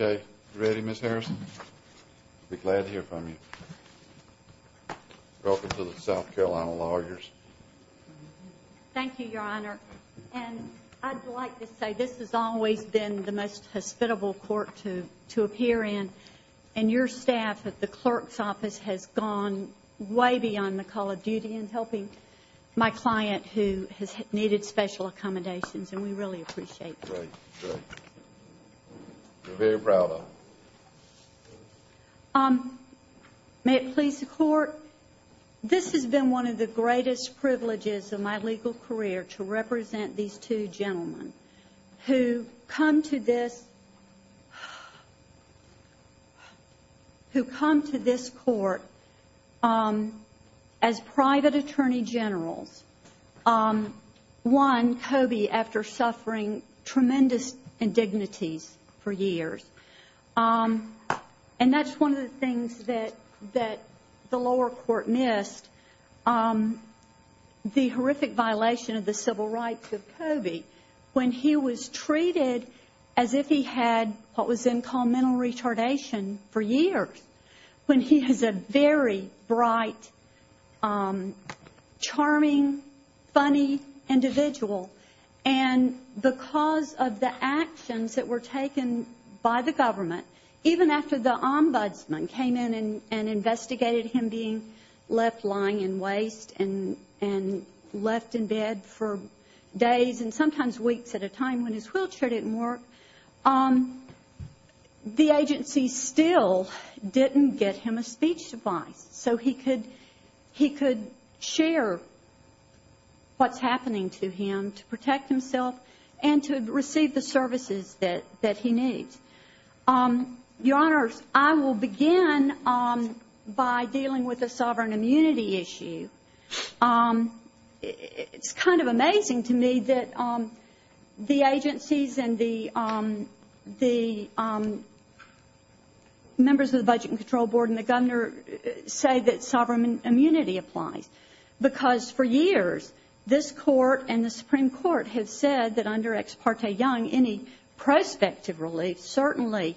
Okay. Ready, Ms. Harrison? Be glad to hear from you. Welcome to the South Carolina Lawyers. Thank you, Your Honor. And I'd like to say this has always been the most hospitable court to appear in, and your staff at the clerk's office has gone way beyond the call of duty in helping my client who has needed special accommodations, and we really appreciate that. You're very proud of it. May it please the Court, this has been one of the greatest privileges of my legal career to represent these two gentlemen who come to this Court as private attorney generals. One, Coby, after suffering tremendous indignities for years, and that's one of the things that the lower court missed, the horrific violation of the civil rights of Coby when he was treated as if he had what was then called mental retardation for years, when he was a very bright, charming, funny individual. And because of the actions that were taken by the government, even after the ombudsman came in and investigated him being left lying in waste and left in bed for days and sometimes weeks at a time when his wheelchair didn't work, the agency still didn't get him a speech device so he could share what's happening to him to protect himself and to receive the services that he needs. Your Honors, I will begin by dealing with the sovereign immunity issue. It's kind of and the members of the Budget and Control Board and the Governor say that sovereign immunity applies because for years, this Court and the Supreme Court have said that under Ex parte Young, any prospective relief certainly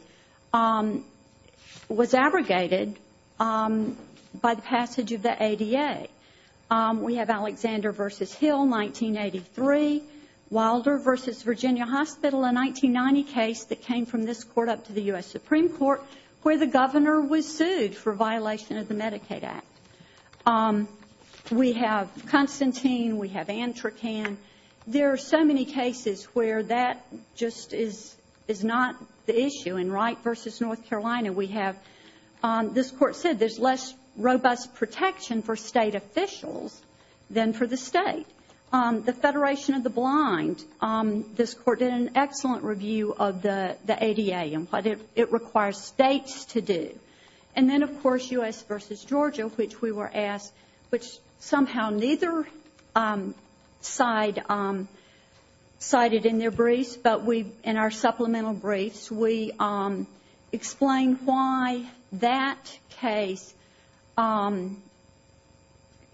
was abrogated by the passage of the ADA. We Hospital, a 1990 case that came from this Court up to the U.S. Supreme Court, where the Governor was sued for violation of the Medicaid Act. We have Constantine. We have Antrocan. There are so many cases where that just is not the issue. In Wright v. North Carolina, we have this Court said there's less robust protection for State officials than for the State. The Federation of the Blind, this Court did an excellent review of the ADA and what it requires States to do. And then, of course, U.S. v. Georgia, which we were asked, which somehow neither side cited in their briefs, but in our supplemental case,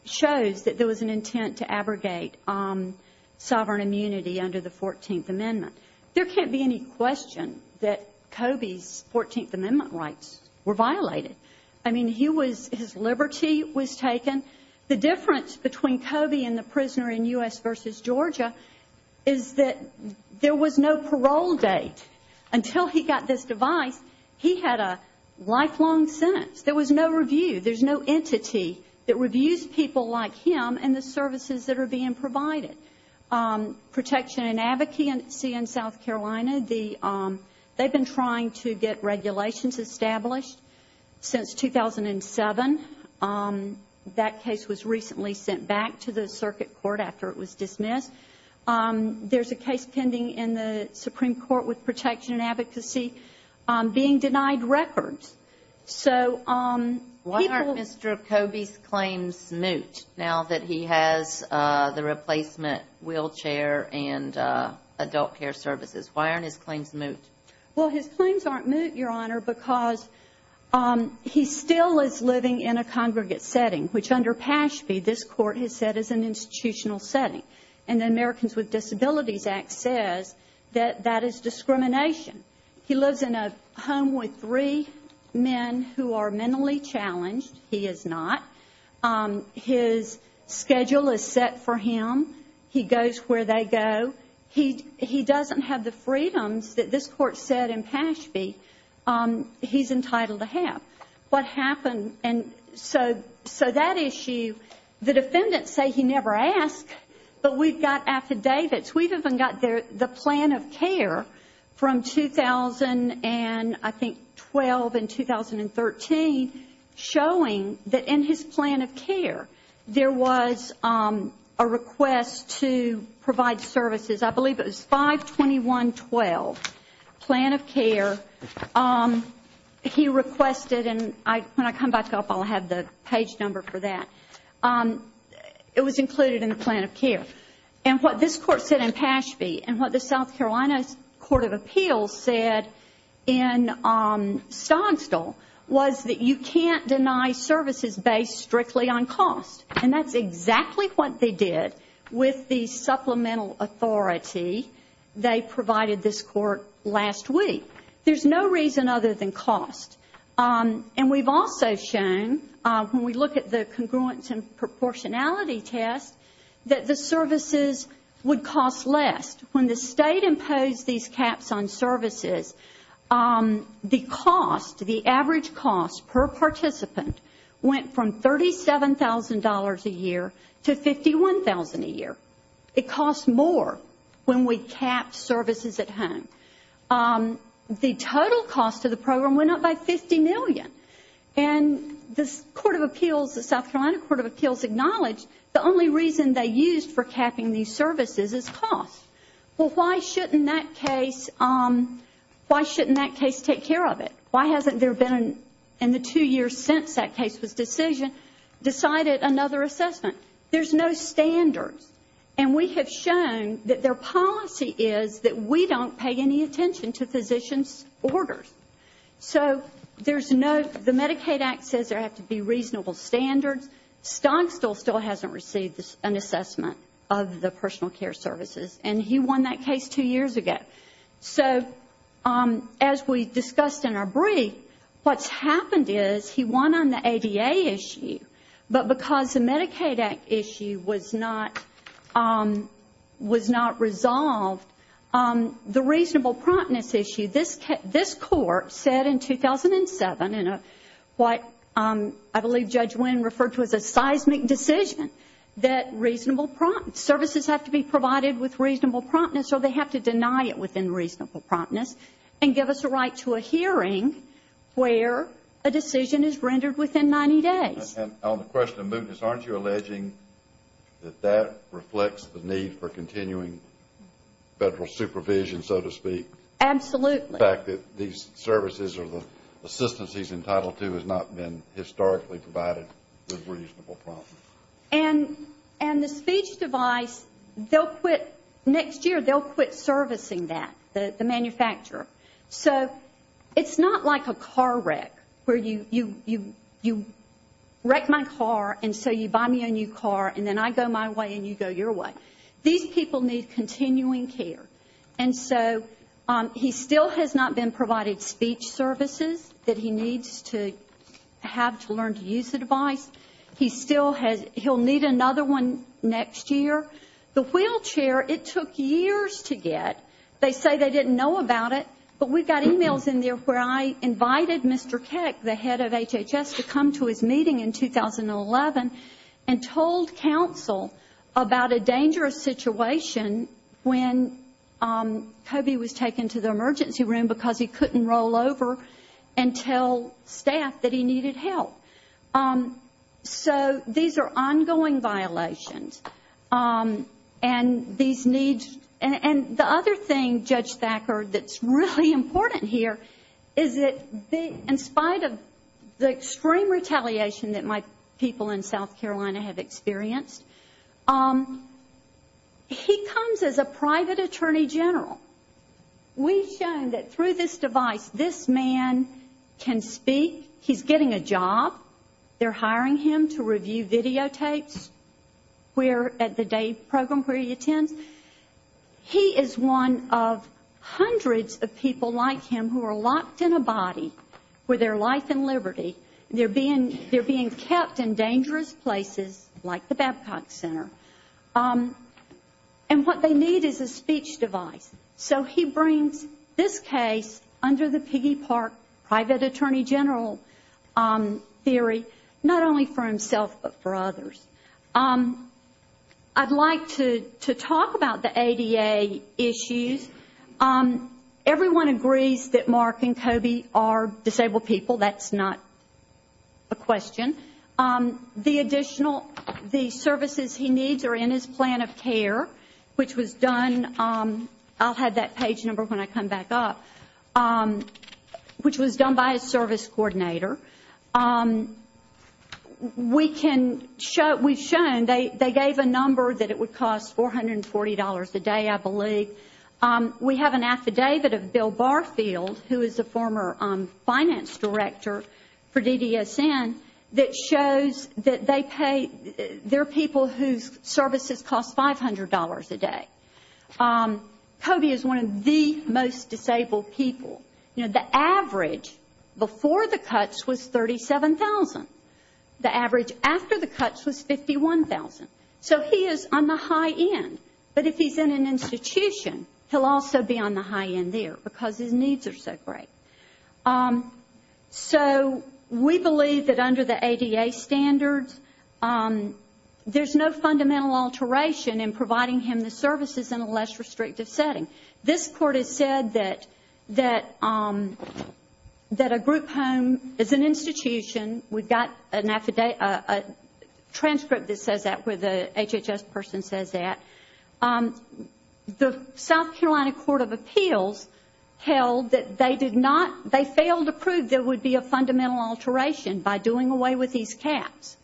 shows that there was an intent to abrogate sovereign immunity under the 14th Amendment. There can't be any question that Coby's 14th Amendment rights were violated. I mean, he was, his liberty was taken. The difference between Coby and the prisoner in U.S. v. Georgia is that there was no parole date. Until he got this device, he had a lifelong sentence. There was no review. There's no entity that reviews people like him and the services that are being provided. Protection and Advocacy in South Carolina, they've been trying to get regulations established since 2007. That case was recently sent back to the Circuit Court after it was dismissed. There's a case pending in the Supreme Court with Protection and Advocacy being denied records. So people Why aren't Mr. Coby's claims moot now that he has the replacement wheelchair and adult care services? Why aren't his claims moot? Well, his claims aren't moot, Your Honor, because he still is living in a congregate setting, which under Pashby, this Court has said is an institutional setting. And the Americans with Disabilities Act says that that is discrimination. He lives in a home with three men who are mentally challenged. He is not. His schedule is set for him. He goes where they go. He doesn't have the freedoms that this Court said in Pashby he's entitled to have. What happened? And so that issue, the defendants say he never asked, but we've got affidavits. We've even got the plan of care from 2000 and I think 2012 and 2013 showing that in his plan of care there was a request to provide services. I believe it was 521-12 plan of care. He requested and when I come back up I'll have the page number for that. It was included in the plan of care. And what this Court said in Pashby and what the South Carolina Court of Appeals said in Stonstall was that you can't deny services based strictly on cost. And that's exactly what they did with the supplemental authority they provided this Court last week. There's no reason other than cost. And we've also shown when we look at the congruence and proportionality test that the services would cost less. When the State imposed these caps on services, the cost, the average cost per participant went from $37,000 a year to $51,000 a year. It costs more when we cap services at home than at home. The total cost of the program went up by $50 million. And the Court of Appeals, the South Carolina Court of Appeals acknowledged the only reason they used for capping these services is cost. Well, why shouldn't that case take care of it? Why hasn't there been in the two years since that case was decided another assessment? There's no standards. And we have shown that their policy is that we don't pay any attention to physician's orders. So there's no, the Medicaid Act says there have to be reasonable standards. Stonstall still hasn't received an assessment of the personal care services. And he won that case two years ago. So as we discussed in our brief, what's happened is he won on the ADA issue, but because the Medicaid Act issue was not resolved, the reasonable promptness issue, this Court said in 2007 in what I believe Judge Wynn referred to as a seismic decision that services have to be provided with reasonable promptness or they have to deny it within reasonable promptness and give us a right to a hearing where a decision is rendered within 90 days. And on the question of mootness, aren't you alleging that that reflects the need for continuing federal supervision, so to speak? Absolutely. The fact that these services or the assistance he's entitled to has not been historically provided with reasonable promptness. And the speech device, they'll quit, next year they'll quit servicing that, the manufacturer. So it's not like a car wreck where you wreck my car and so you buy me a new car and then I go my way and you go your way. These people need continuing care. And so he still has not been provided speech services that he needs to have to learn to use the device. He still has, he'll need another one next year. The wheelchair, it took years to get. They say they didn't know about it, but we've got emails in there where I invited Mr. Keck, the head of HHS, to come to his meeting in 2011 and told counsel about a dangerous situation when Kobe was taken to the emergency room because he couldn't roll over and tell staff that he needed help. So these are ongoing violations. And the other thing, Judge Thacker, that's really important here is that in spite of the extreme retaliation that my people in South Carolina have experienced, he comes as a private attorney general. We've shown that through this device, this man can speak, he's getting a job, they're hiring him to review videotapes at the day program where he attends. He is one of hundreds of people like him who are locked in a body with their life and liberty. They're being kept in dangerous places like the Babcock Center. And what they need is a speech device. So he brings this case under the Piggy Park Private Attorney General theory, not only for himself, but for others. I'd like to talk about the ADA issues. Everyone agrees that Mark and Kobe are disabled people. That's not a question. The additional, the services he needs are in his plan of care, which was done, I'll have that page number when I come back up, which was done by a service coordinator. We've shown, they gave a number that it would cost $440 a day, I believe. We have an affidavit of Bill Barfield, who is a former finance director for DDSN, that shows that they pay, they're people whose services cost $500 a day. Kobe is one of the most disabled people. You know, the average before the cuts was $37,000. The average after the cuts was $51,000. So he is on the high end. But if he's in an institution, he'll also be on the high end there, because his needs are so great. So we believe that under the ADA standards, there's no fundamental alteration in providing him the services in a less restrictive setting. This Court has said that a group home is an institution. We've got a transcript that says that, where the HHS person says that. The they failed to prove there would be a fundamental alteration by doing away with these caps.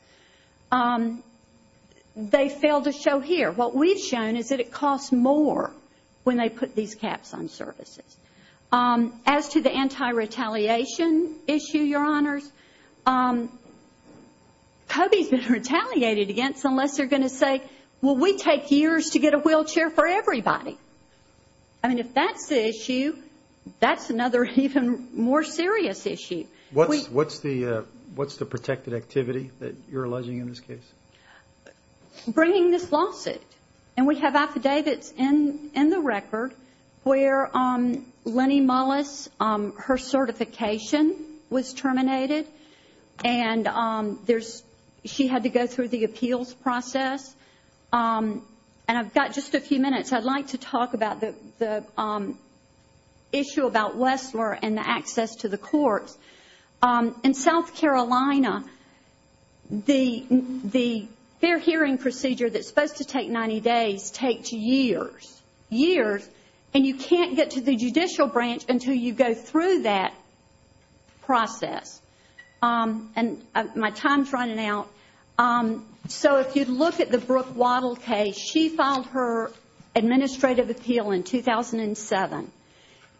They failed to show here. What we've shown is that it costs more when they put these caps on services. As to the anti-retaliation issue, Your Honors, Kobe's been retaliated against unless they're going to say, well, we take years to get a wheelchair for everybody. I mean, if that's the issue, that's another even more serious issue. What's the protected activity that you're alleging in this case? Bringing this lawsuit. And we have affidavits in the record where Lennie Mullis, her certification was terminated, and she had to go through the appeals process. And I've got just a few issues about Wessler and the access to the courts. In South Carolina, the fair hearing procedure that's supposed to take 90 days takes years. Years. And you can't get to the judicial branch until you go through that process. And my time's running out. So if you look at the Brooke Waddell case, she filed her administrative appeal in 2007.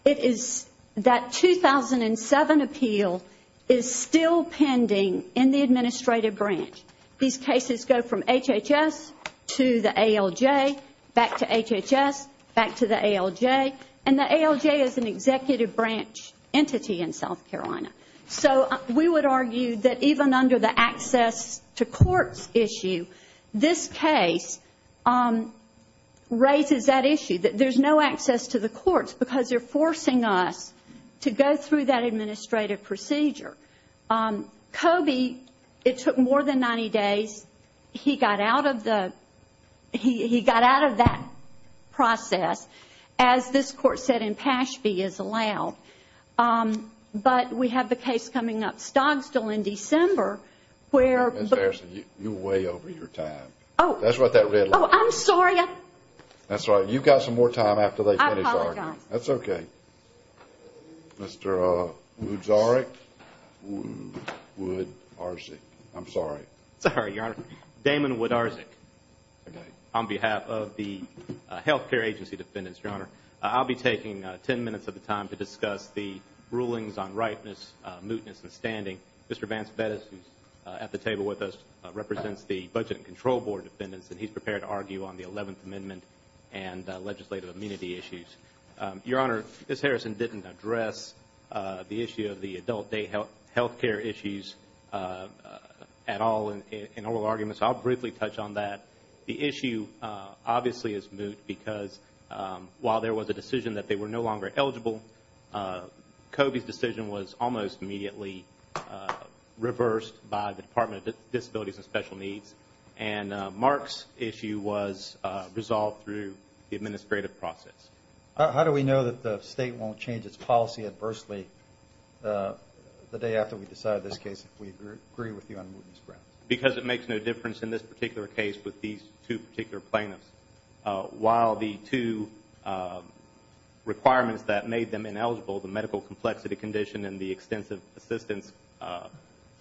It is that 2007 appeal is still pending in the administrative branch. These cases go from HHS to the ALJ, back to HHS, back to the ALJ. And the ALJ is an executive branch entity in South Carolina. So we would argue that even under the access to courts issue, this case raises that issue, that there's no access to the courts because they're forcing us to go through that administrative procedure. Coby, it took more than 90 days. He got out of the, he got out of that process, as this case, but we have the case coming up still in December, where... Ms. Harrison, you're way over your time. Oh. That's what that red line is. Oh, I'm sorry. That's all right. You've got some more time after they finish arguing. I apologize. That's okay. Mr. Wood-Zarek, Wood-Arzik. I'm sorry. Sorry, Your Honor. Damon Wood-Arzik. Okay. On behalf of the health care agency defendants, Your Honor, I'll be taking 10 minutes of the rulings on rightness, mootness, and standing. Mr. Vance Vettis, who's at the table with us, represents the Budget and Control Board defendants, and he's prepared to argue on the 11th Amendment and legislative immunity issues. Your Honor, Ms. Harrison didn't address the issue of the adult day health care issues at all in oral arguments. So I'll briefly touch on that. The issue, obviously, is moot because while there was a decision that they were no longer eligible, Kobe's decision was almost immediately reversed by the Department of Disabilities and Special Needs, and Mark's issue was resolved through the administrative process. How do we know that the state won't change its policy adversely the day after we decide this case if we agree with you on mootness grounds? Because it makes no difference in this particular case with these two particular plaintiffs. While the two requirements that made them ineligible, the medical complexity condition and the extensive assistance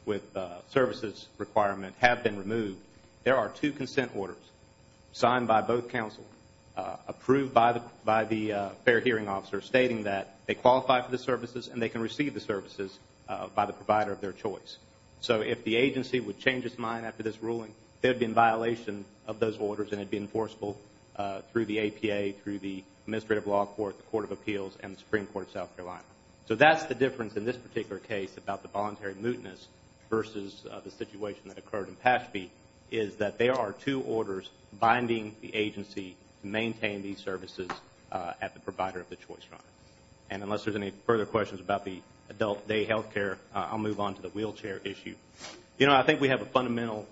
with services requirement, have been removed, there are two consent orders signed by both counsel, approved by the fair hearing officer, stating that they qualify for the services and they can receive the services by the provider of their choice. So if the agency would change its mind after this ruling, they'd be in violation of those rules, and they'd be enforceable through the APA, through the Administrative Law Court, the Court of Appeals, and the Supreme Court of South Carolina. So that's the difference in this particular case about the voluntary mootness versus the situation that occurred in Pashby, is that there are two orders binding the agency to maintain these services at the provider of the choice. And unless there's any further questions about the adult day health care, I'll move on to the wheelchair issue. You know, I think we have a fundamental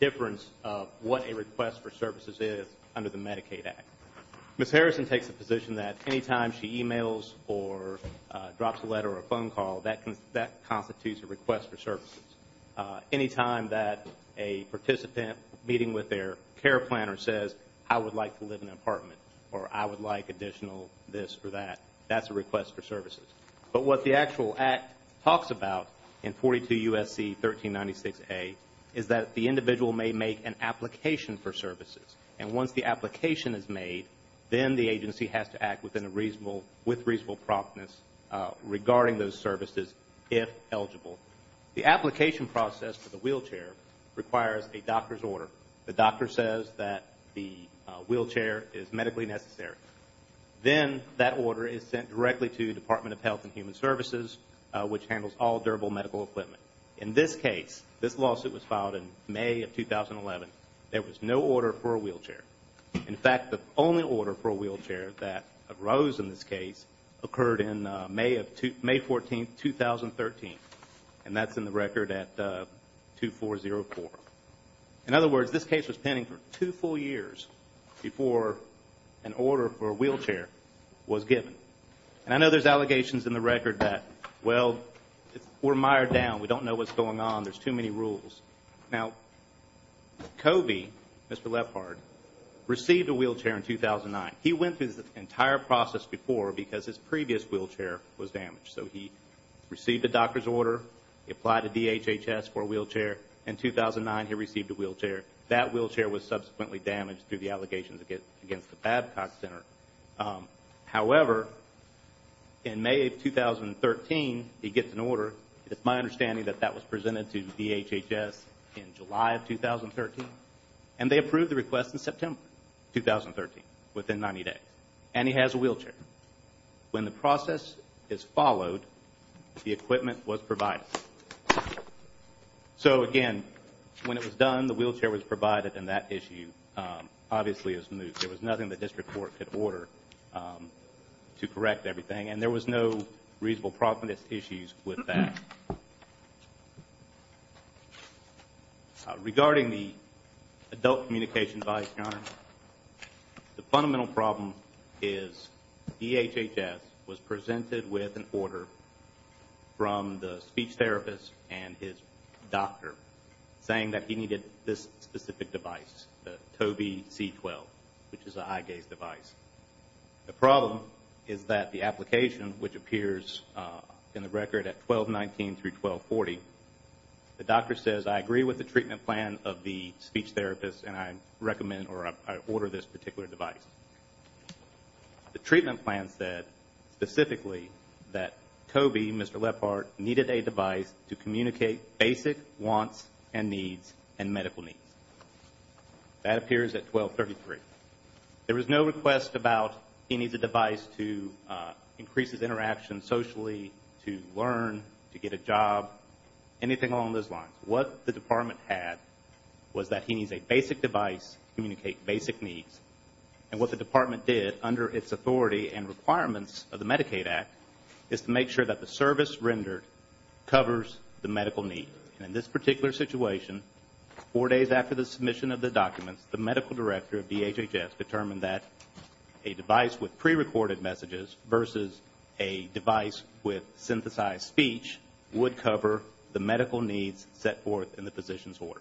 difference of what a request for services is under the Medicaid Act. Ms. Harrison takes the position that any time she emails or drops a letter or a phone call, that constitutes a request for services. Any time that a participant meeting with their care planner says, I would like to live in an apartment, or I would like additional this or that, that's a request for services. But what the actual Act talks about in 42 U.S.C. 1396A, is that the individual may make an application for services. And once the application is made, then the agency has to act with reasonable promptness regarding those services, if eligible. The application process for the wheelchair requires a doctor's order. The doctor says that the wheelchair is medically necessary. Then that order is sent directly to the Department of Health and Human Services, which handles all durable medical equipment. In this case, this lawsuit was filed in May of 2011, there was no order for a wheelchair. In fact, the only order for a wheelchair that arose in this case, occurred in May 14, 2013. And that's in the record at 2404. In other words, this case was pending for two full years before an order for a wheelchair was given. And I know there's allegations in the record that, well, we're mired down, we don't know what's going on, there's too many rules. Now, Coby, Mr. Lefthard, received a wheelchair in 2009. He went through this entire process before because his previous wheelchair was damaged. So he received a doctor's order, he applied to DHHS for a wheelchair in 2009. He received a wheelchair. That wheelchair was subsequently damaged through the allegations against the Babcock Center. However, in May of 2013, he gets an order. It's my understanding that that was presented to DHHS in July of 2013. And they approved the request in September 2013, within 90 days. And he has a wheelchair. When the process is followed, the equipment was provided. So, again, when it was done, the wheelchair was provided, and that issue obviously is moved. There was nothing the district court could order to correct everything. And there was no reasonable problem, just issues with that. Regarding the adult communication bias, Your Honor, the fundamental problem is DHHS was a speech therapist and his doctor saying that he needed this specific device, the Coby C12, which is an eye gaze device. The problem is that the application, which appears in the record at 1219 through 1240, the doctor says, I agree with the treatment plan of the speech therapist, and I recommend or I order this particular device. The treatment plan said, specifically, that Coby, Mr. Lephardt, needed a device to communicate basic wants and needs and medical needs. That appears at 1233. There was no request about he needs a device to increase his interaction socially, to learn, to get a job, anything along those lines. What the department had was that he needs a basic device to communicate basic needs. And what the department did, under its authority and requirements of the Medicaid Act, is to make sure that the service rendered covers the medical need. And in this particular situation, four days after the submission of the documents, the medical director of DHHS determined that a device with prerecorded messages versus a the medical needs set forth in the physician's order.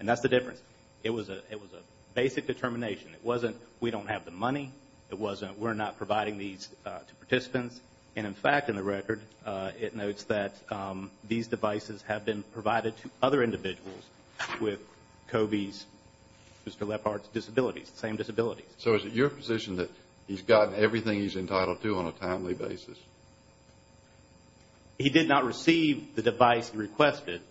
And that's the difference. It was a basic determination. We don't have the money. We're not providing these to participants. And in fact in the record, it notes that these devices have been provided to other individuals with Coby's, Mr. Lephardt's disabilities, the same disabilities. So is it your position that he's gotten everything he's entitled to on a timely basis? He did not receive the device he requested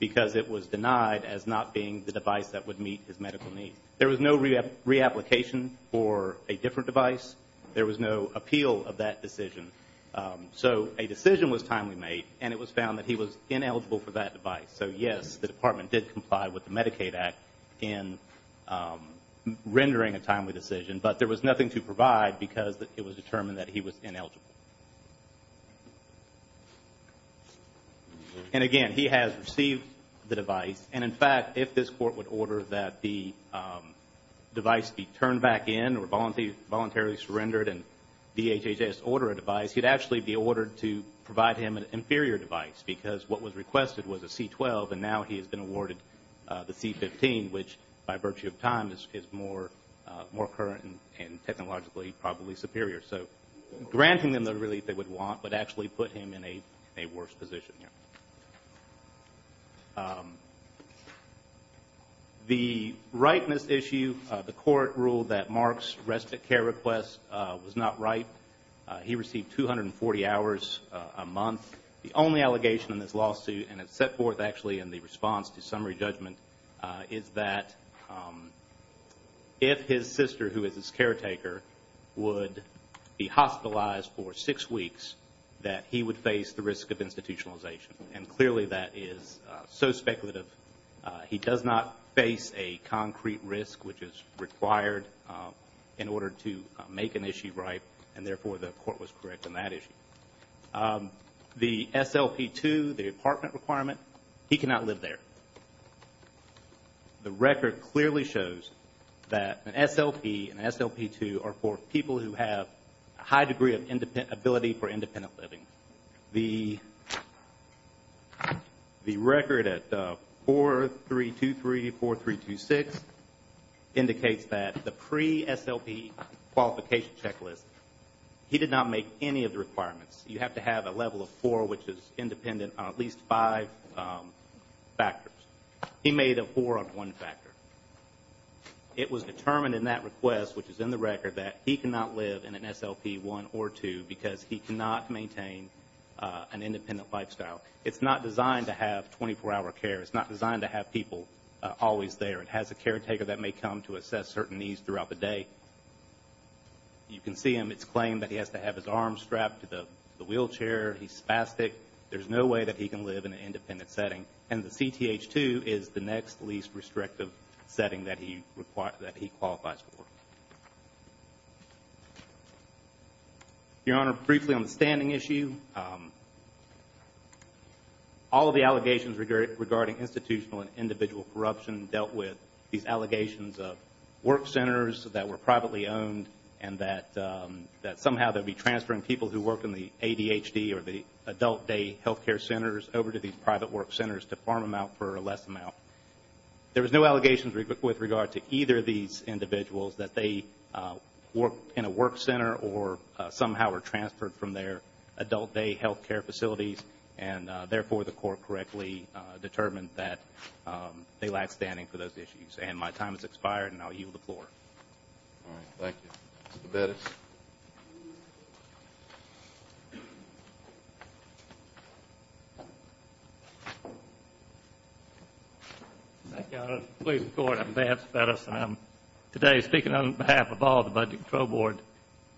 because it was denied as not being the device that would meet his medical needs. There was no reapplication for a different device. There was no appeal of that decision. So a decision was timely made and it was found that he was ineligible for that device. So yes, the department did comply with the Medicaid Act in rendering a timely decision. But there was nothing to provide because it was determined that he was ineligible. And again, he has received the device. And in fact, if this court would order that the device be turned back in or voluntarily surrendered and DHHS order a device, he'd actually be ordered to provide him an inferior device because what was requested was a C-12 and now he has been awarded the C-15, which by virtue of time is more current and technologically probably superior. So granting them the relief they would want would actually put him in a worse position. The rightness issue, the court ruled that Mark's respite care request was not right. He received 240 hours a month. The only allegation in this lawsuit and it's set forth actually in the response to summary judgment is that if his sister who is his caretaker would be hospitalized for six weeks that he would face the risk of institutionalization. And clearly that is so speculative. He does not face a concrete risk which is required in order to make an issue right and therefore the court was correct in that issue. The SLP-2, the apartment requirement, he cannot live there. The record clearly shows that an SLP and SLP-2 are for people who have a high degree of ability for independent living. The record at 4323-4326 indicates that the pre-SLP qualification checklist, he did not make any of the requirements. You have to have a level of four which is independent on at least five factors. He made a four on one factor. It was determined in that request which is in the record that he cannot live in an SLP-1 or SLP-2 because he cannot maintain an independent lifestyle. It's not designed to have 24-hour care. It's not designed to have people always there. It has a caretaker that may come to assess certain needs throughout the day. You can see him, it's claimed that he has to have his arms strapped to the wheelchair. He's spastic. There's no way that he can live in an independent setting and the CTH-2 is the next least restrictive setting that he qualifies for. Your Honor, briefly on the standing issue, all of the allegations regarding institutional and individual corruption dealt with these allegations of work centers that were privately owned and that somehow they'd be transferring people who work in the ADHD or the adult day health care centers over to these private work centers to farm them out for a less amount. There was no allegations with regard to either of these individuals that they work in a work center or somehow were transferred from their adult day health care facilities and therefore the court correctly determined that they lack standing for those issues. My time has expired and I'll yield the floor. All right, thank you. Mr. Bettis. Thank you, Your Honor. I'm Vance Bettis and I'm today speaking on behalf of all the Budget Control Board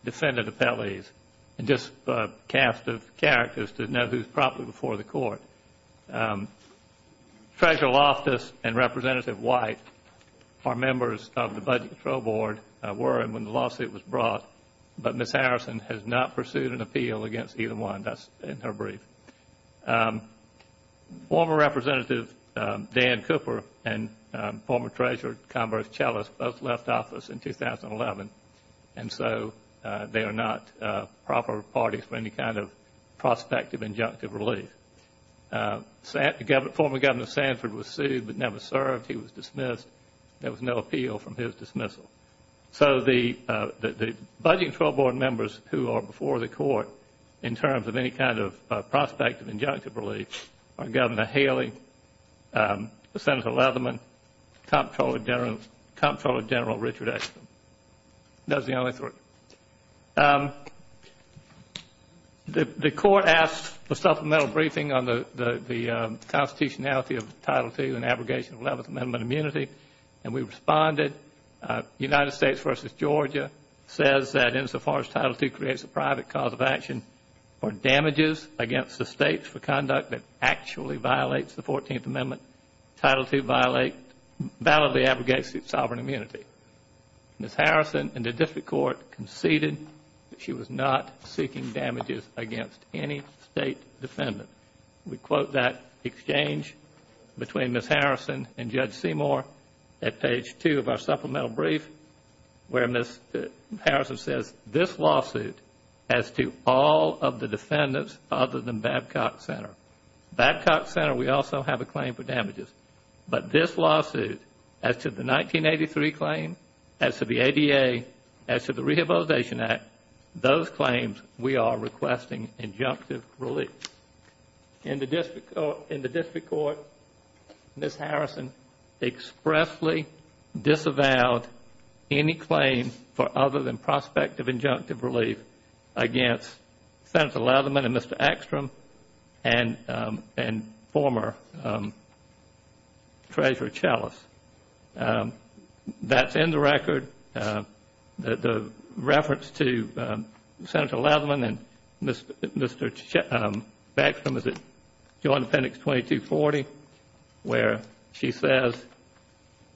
defendant appellees and just a cast of characters to know who's properly before the court. Treasurer Loftus and Representative White are members of the Budget Control Board, were when the lawsuit was brought, but Ms. Harrison has not pursued an appeal against either one. That's in her brief. Former Representative Dan Cooper and former Treasurer Converse Chellis both left office in 2011 and so they are not proper parties for any kind of prospective injunctive relief. Former Governor Sanford was sued but never served. He was dismissed. There was no appeal from his dismissal. So the Budget Control Board members who are before the court in terms of any kind of prospective That's the only third. The court asked for supplemental briefing on the constitutionality of Title II and abrogation of 11th Amendment immunity and we responded. United States v. Georgia says that insofar as Title II creates a private cause of action for damages against the States for conduct that actually violates the 14th Amendment, Title II validly abrogates its sovereign immunity. Ms. Harrison in the district court conceded that she was not seeking damages against any State defendant. We quote that exchange between Ms. Harrison and Judge Seymour at page two of our supplemental brief where Ms. Harrison says, this lawsuit has to all of the defendants other than Babcock Center. Babcock Center, we also have a claim for damages. But this lawsuit, as to the 1983 claim, as to the ADA, as to the Rehabilitation Act, those claims we are requesting injunctive relief. In the district court, Ms. Harrison expressly disavowed any claim for other than prospective injunctive relief against Senator Leatherman and Mr. Ekstrom and former Treasurer Chellis. That's in the record. The reference to Senator Leatherman and Mr. Ekstrom is at Joint Appendix 2240 where she says,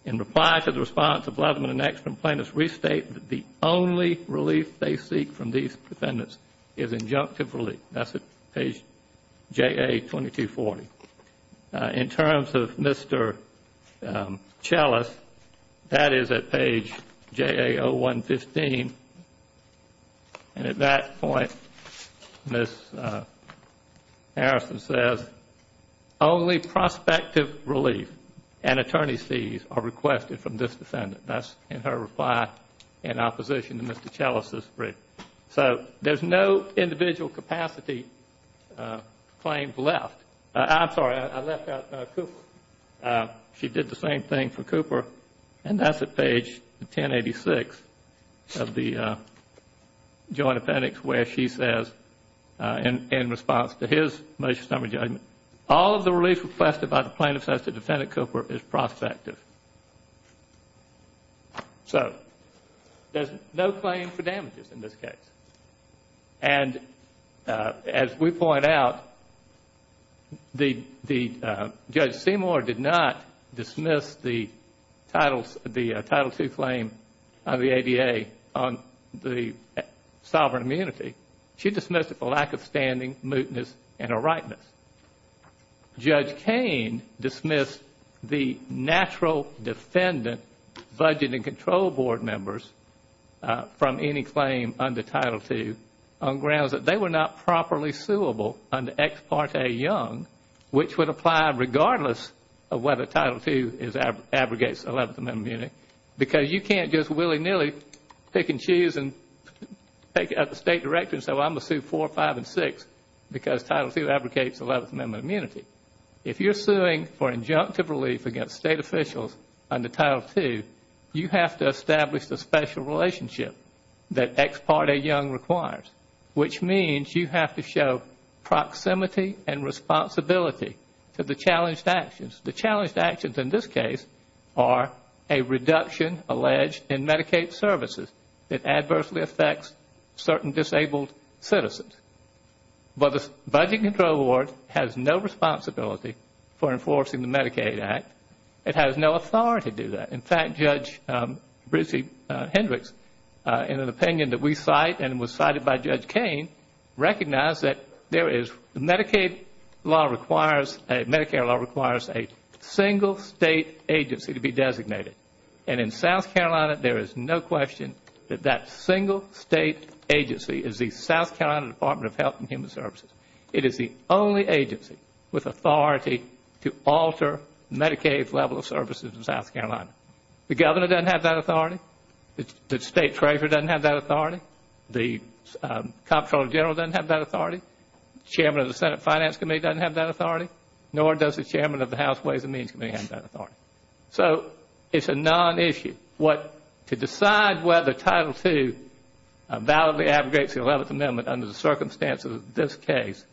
in reply to the response of Leatherman and Ekstrom, plaintiffs restate that the only relief they seek from these defendants is injunctive relief. That's at page JA 2240. In terms of Mr. Chellis, that is at page JA 0115 and at that point Ms. Harrison says, only prospective relief and attorney's fees are requested from this defendant. That's in her reply in opposition to Mr. Chellis' brief. So there's no individual capacity claims left. I'm sorry, I left out Cooper. She did the same thing for Cooper and that's at page 1086 of the Joint Appendix where she says, in response to his motion summary judgment, all of the relief requested by the plaintiffs as to Defendant Cooper is prospective. So there's no claim for damages in this case and as we point out, Judge Seymour did not She dismissed it for lack of standing, mootness and a rightness. Judge Cain dismissed the natural defendant Budget and Control Board members from any claim under Title II on grounds that they were not properly suable under Ex Parte Young, which would apply regardless of whether Title II abrogates Eleventh Amendment immunity because you can't just willy-nilly pick and choose and pick at the State Director and say, well, I'm going to sue four, five and six because Title II abrogates Eleventh Amendment immunity. If you're suing for injunctive relief against State officials under Title II, you have to establish the special relationship that Ex Parte Young requires, which means you have to show proximity and responsibility to the challenged actions. The challenged actions in this case are a reduction alleged in Medicaid services that adversely affects certain disabled citizens. But the Budget and Control Board has no responsibility for enforcing the Medicaid Act. It has no authority to do that. In fact, Judge Bridget Hendricks, in an opinion that we cite and was cited by Judge Cain, recognized that the Medicare law requires a single State agency to be designated. In South Carolina, there is no question that that single State agency is the South Carolina Department of Health and Human Services. It is the only agency with authority to alter Medicaid's level of services in South Carolina. The Governor doesn't have that authority. The State Treasurer doesn't have that authority. The Comptroller General doesn't have that authority. The Chairman of the Senate Finance Committee doesn't have that authority. Nor does the Chairman of the House Ways and Means Committee have that authority. So, it's a non-issue. What, to decide whether Title II validly abrogates the Eleventh Amendment under the circumstances of this case,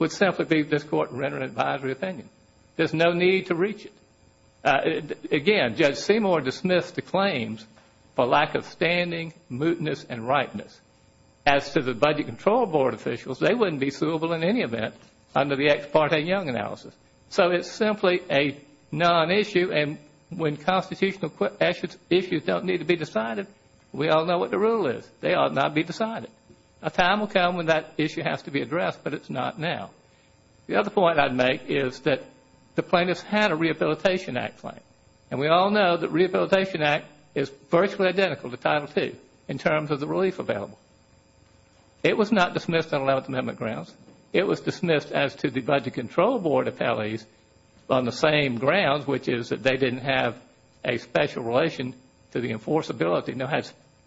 would simply be this Court rendering an advisory opinion. There's no need to reach it. Again, Judge Seymour dismissed the claims for lack of standing, mootness, and ripeness. As to the Budget Control Board officials, they wouldn't be suable in any event under the ex parte Young analysis. So it's simply a non-issue, and when constitutional issues don't need to be decided, we all know what the rule is. They ought not be decided. A time will come when that issue has to be addressed, but it's not now. The other point I'd make is that the plaintiffs had a Rehabilitation Act claim, and we all know that Rehabilitation Act is virtually identical to Title II in terms of the relief available. It was not dismissed on Eleventh Amendment grounds. It was dismissed as to the Budget Control Board appellees on the same grounds, which is that they didn't have a special relation to the enforceability,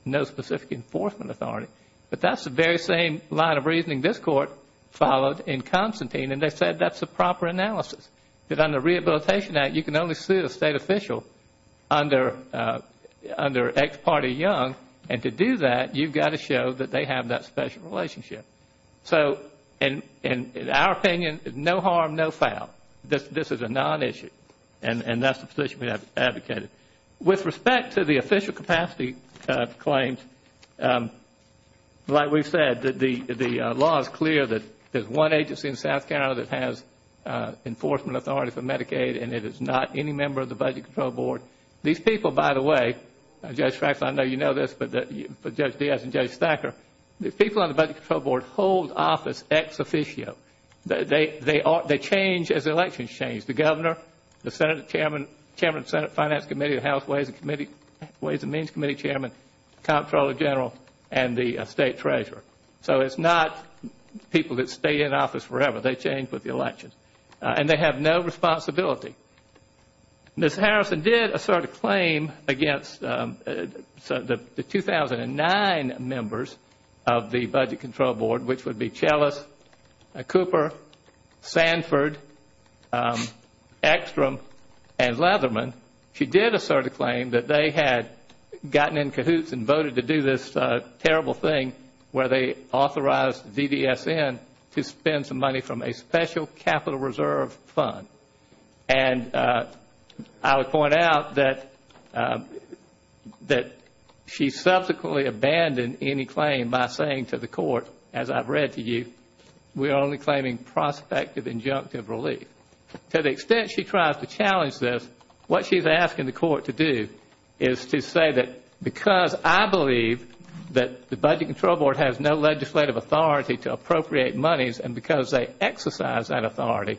no specific enforcement authority. But that's the very same line of reasoning this Court followed in Constantine, and they said that's the proper analysis, that under Rehabilitation Act, you can only sue a State official under ex parte Young, and to do that, you've got to show that they have that special relationship. So in our opinion, no harm, no foul. This is a non-issue, and that's the position we have advocated. With respect to the official capacity claims, like we've said, the law is clear that there's one agency in South Carolina that has enforcement authority for Medicaid, and it is not any member of the Budget Control Board. These people, by the way, Judge Faxon, I know you know this, but Judge Diaz and Judge Thacker, the people on the Budget Control Board hold office ex officio. They change as elections change. It's the Governor, the Chairman of the Senate Finance Committee, the House Ways and Means Committee Chairman, Comptroller General, and the State Treasurer. So it's not people that stay in office forever. They change with the elections, and they have no responsibility. Ms. Harrison did assert a claim against the 2009 members of the Budget Control Board, which would be Chellis, Cooper, Sanford, Ekstrom, and Leatherman. She did assert a claim that they had gotten in cahoots and voted to do this terrible thing where they authorized DDSN to spend some money from a special capital reserve fund. I would point out that she subsequently abandoned any claim by saying to the Court, as I've read to you, we are only claiming prospective injunctive relief. To the extent she tries to challenge this, what she's asking the Court to do is to say that because I believe that the Budget Control Board has no legislative authority to appropriate monies and because they exercise that authority,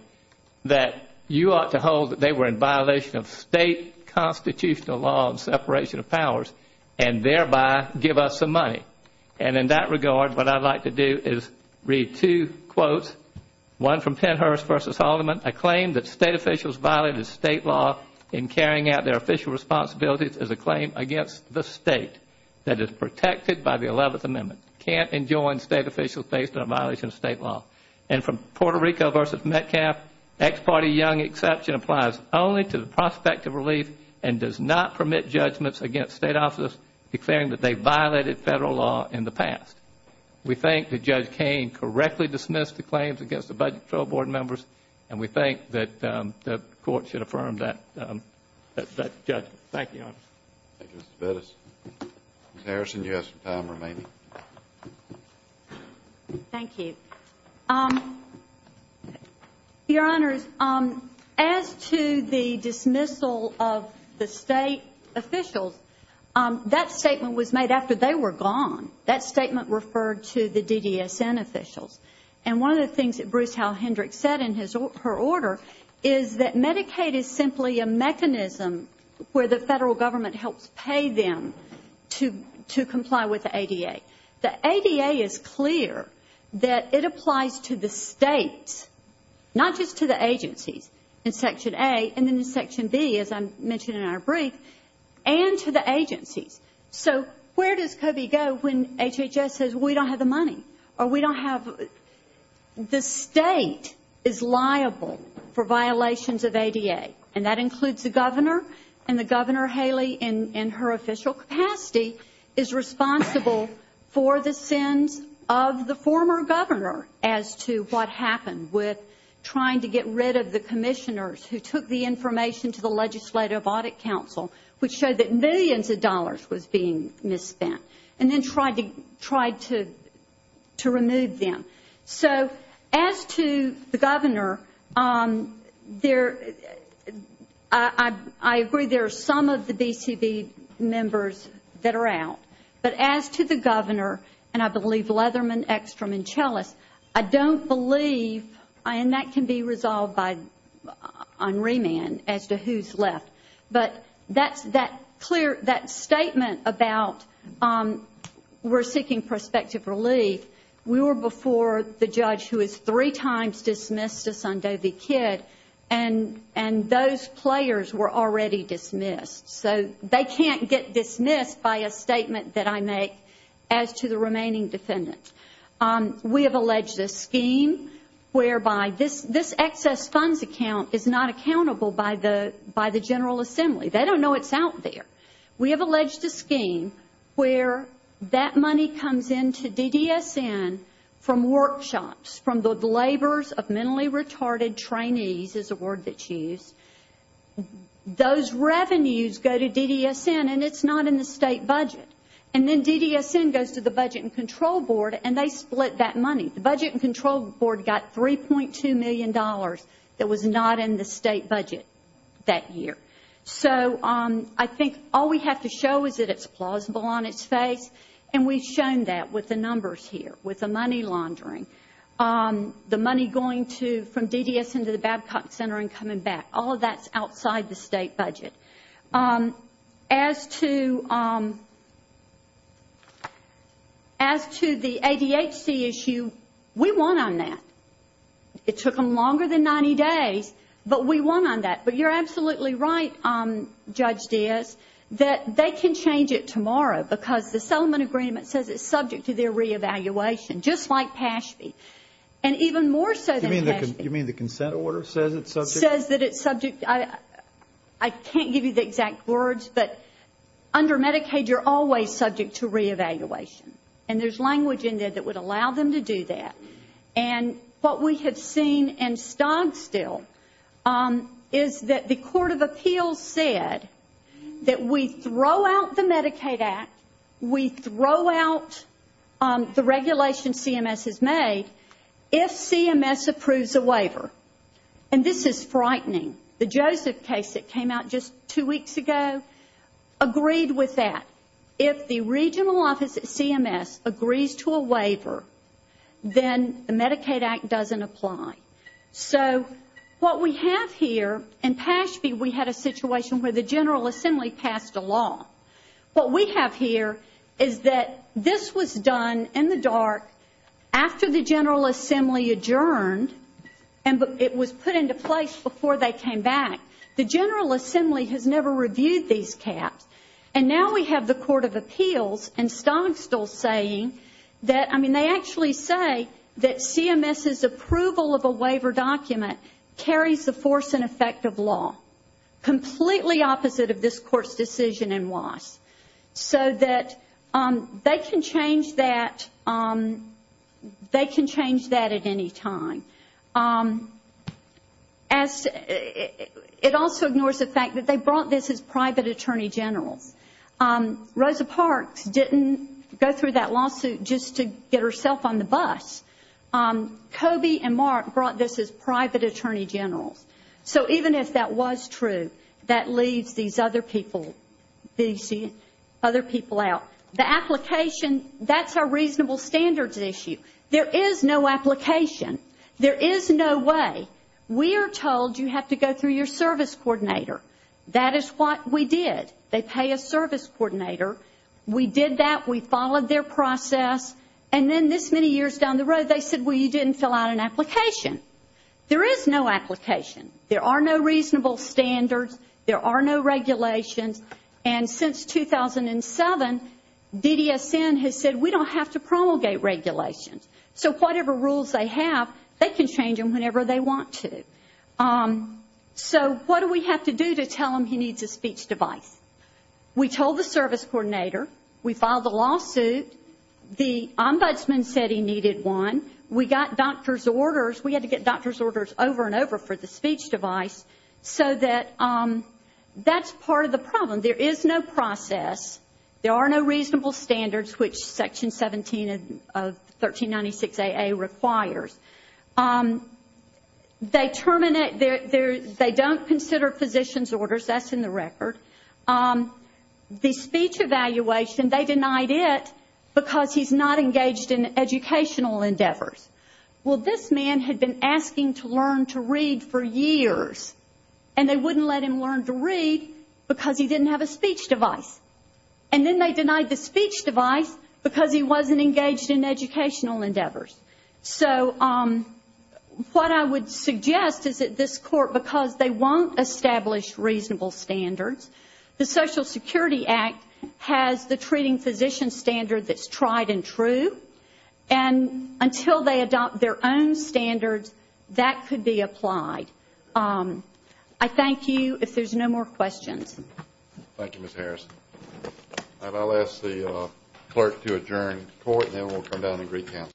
that you ought to hold that they were in violation of state constitutional law and separation of powers and thereby give us some money. And in that regard, what I'd like to do is read two quotes. One from Pennhurst v. Haldeman, a claim that state officials violated state law in carrying out their official responsibilities is a claim against the state that is protected by the Eleventh Amendment. Can't enjoin state officials based on a violation of state law. And from Puerto Rico v. Metcalf, ex parte young exception applies only to the prospective relief and does not permit judgments against state officers declaring that they violated federal law in the past. We think that Judge Kain correctly dismissed the claims against the Budget Control Board members and we think that the Court should affirm that judgment. Thank you, Your Honor. Thank you, Mr. Bettis. Ms. Harrison, you have some time remaining. Thank you. Your Honors, as to the dismissal of the state officials, that statement was made after they were gone. That statement referred to the DDSN officials. And one of the things that Bruce Halhendrick said in her order is that Medicaid is simply a mechanism where the federal government helps pay them to comply with the ADA. The ADA is clear that it applies to the states, not just to the agencies in Section A and then in Section B, as I mentioned in our brief, and to the agencies. So where does COBE go when HHS says, well, we don't have the money or we don't have the state is liable for violations of ADA? And that includes the governor and the governor, Haley, in her official capacity, is responsible for the sins of the former governor as to what happened with trying to get rid of the commissioners who took the information to the Legislative Audit Council, which showed that millions of dollars was being misspent, and then tried to remove them. So as to the governor, I agree there are some of the BCB members that are out, but as to the governor, and I believe Leatherman, Ekstrom, and Chellis, I don't believe, and that can be resolved on remand as to who's left. But that statement about we're seeking prospective relief, we were before the judge who has three times dismissed us on Doe v. Kidd, and those players were already dismissed. So they can't get dismissed by a statement that I make as to the remaining defendants. We have alleged a scheme whereby this excess funds account is not accountable by the General Assembly. They don't know it's out there. We have alleged a scheme where that money comes into DDSN from workshops, from the labors of mentally retarded trainees, is a word that's used. Those revenues go to DDSN, and it's not in the state budget. And then DDSN goes to the Budget and Control Board, and they split that money. The Budget and Control Board got $3.2 million that was not in the state budget that year. So I think all we have to show is that it's plausible on its face, and we've shown that with the numbers here, with the money laundering, the money going from DDSN to the Babcock Center and coming back. All of that's outside the state budget. As to the ADHD issue, we won on that. It took them longer than 90 days, but we won on that. But you're absolutely right, Judge Diaz, that they can change it tomorrow because the settlement agreement says it's subject to their re-evaluation, just like PASB, and even more so than PASB. You mean the consent order says it's subject? Says that it's subject. I can't give you the exact words, but under Medicaid, you're always subject to re-evaluation. And there's language in there that would allow them to do that. And what we have seen, and stod still, is that the Court of Appeals said that we throw out the Medicaid Act, we throw out the regulation CMS has made, if CMS approves a waiver. And this is frightening. The Joseph case that came out just two weeks ago agreed with that. If the regional office at CMS agrees to a waiver, then the Medicaid Act doesn't apply. So what we have here, in PASB we had a situation where the General Assembly passed a law. What we have here is that this was done in the dark after the General Assembly adjourned and it was put into place before they came back. The General Assembly has never reviewed these caps. And now we have the Court of Appeals and stod still saying that, I mean, they actually say that CMS's approval of a waiver document carries the force and effect of law, completely opposite of this Court's decision in WSS. So that they can change that at any time. It also ignores the fact that they brought this as private attorney generals. Rosa Parks didn't go through that lawsuit just to get herself on the bus. Coby and Mark brought this as private attorney generals. So even if that was true, that leaves these other people out. The application, that's a reasonable standards issue. There is no application. There is no way. We are told you have to go through your service coordinator. That is what we did. They pay a service coordinator. We did that. We followed their process. And then this many years down the road, they said, well, you didn't fill out an application. There is no application. There are no reasonable standards. There are no regulations. And since 2007, DDSN has said, we don't have to promulgate regulations. So whatever rules they have, they can change them whenever they want to. So what do we have to do to tell him he needs a speech device? We told the service coordinator. We filed the lawsuit. The ombudsman said he needed one. We got doctor's orders. We had to get doctor's orders over and over for the speech device, so that that's part of the problem. There is no process. There are no reasonable standards, which Section 17 of 1396AA requires. They don't consider physician's orders. That's in the record. The speech evaluation, they denied it because he's not engaged in educational endeavors. Well, this man had been asking to learn to read for years, and they wouldn't let him learn to read because he didn't have a speech device. And then they denied the speech device because he wasn't engaged in educational endeavors. So what I would suggest is that this Court, because they won't establish reasonable standards, the Social Security Act has the treating physician standard that's tried and true, and until they adopt their own standards, that could be applied. I thank you. If there's no more questions. Thank you, Ms. Harrison. And I'll ask the clerk to adjourn the Court, and then we'll come down and recount.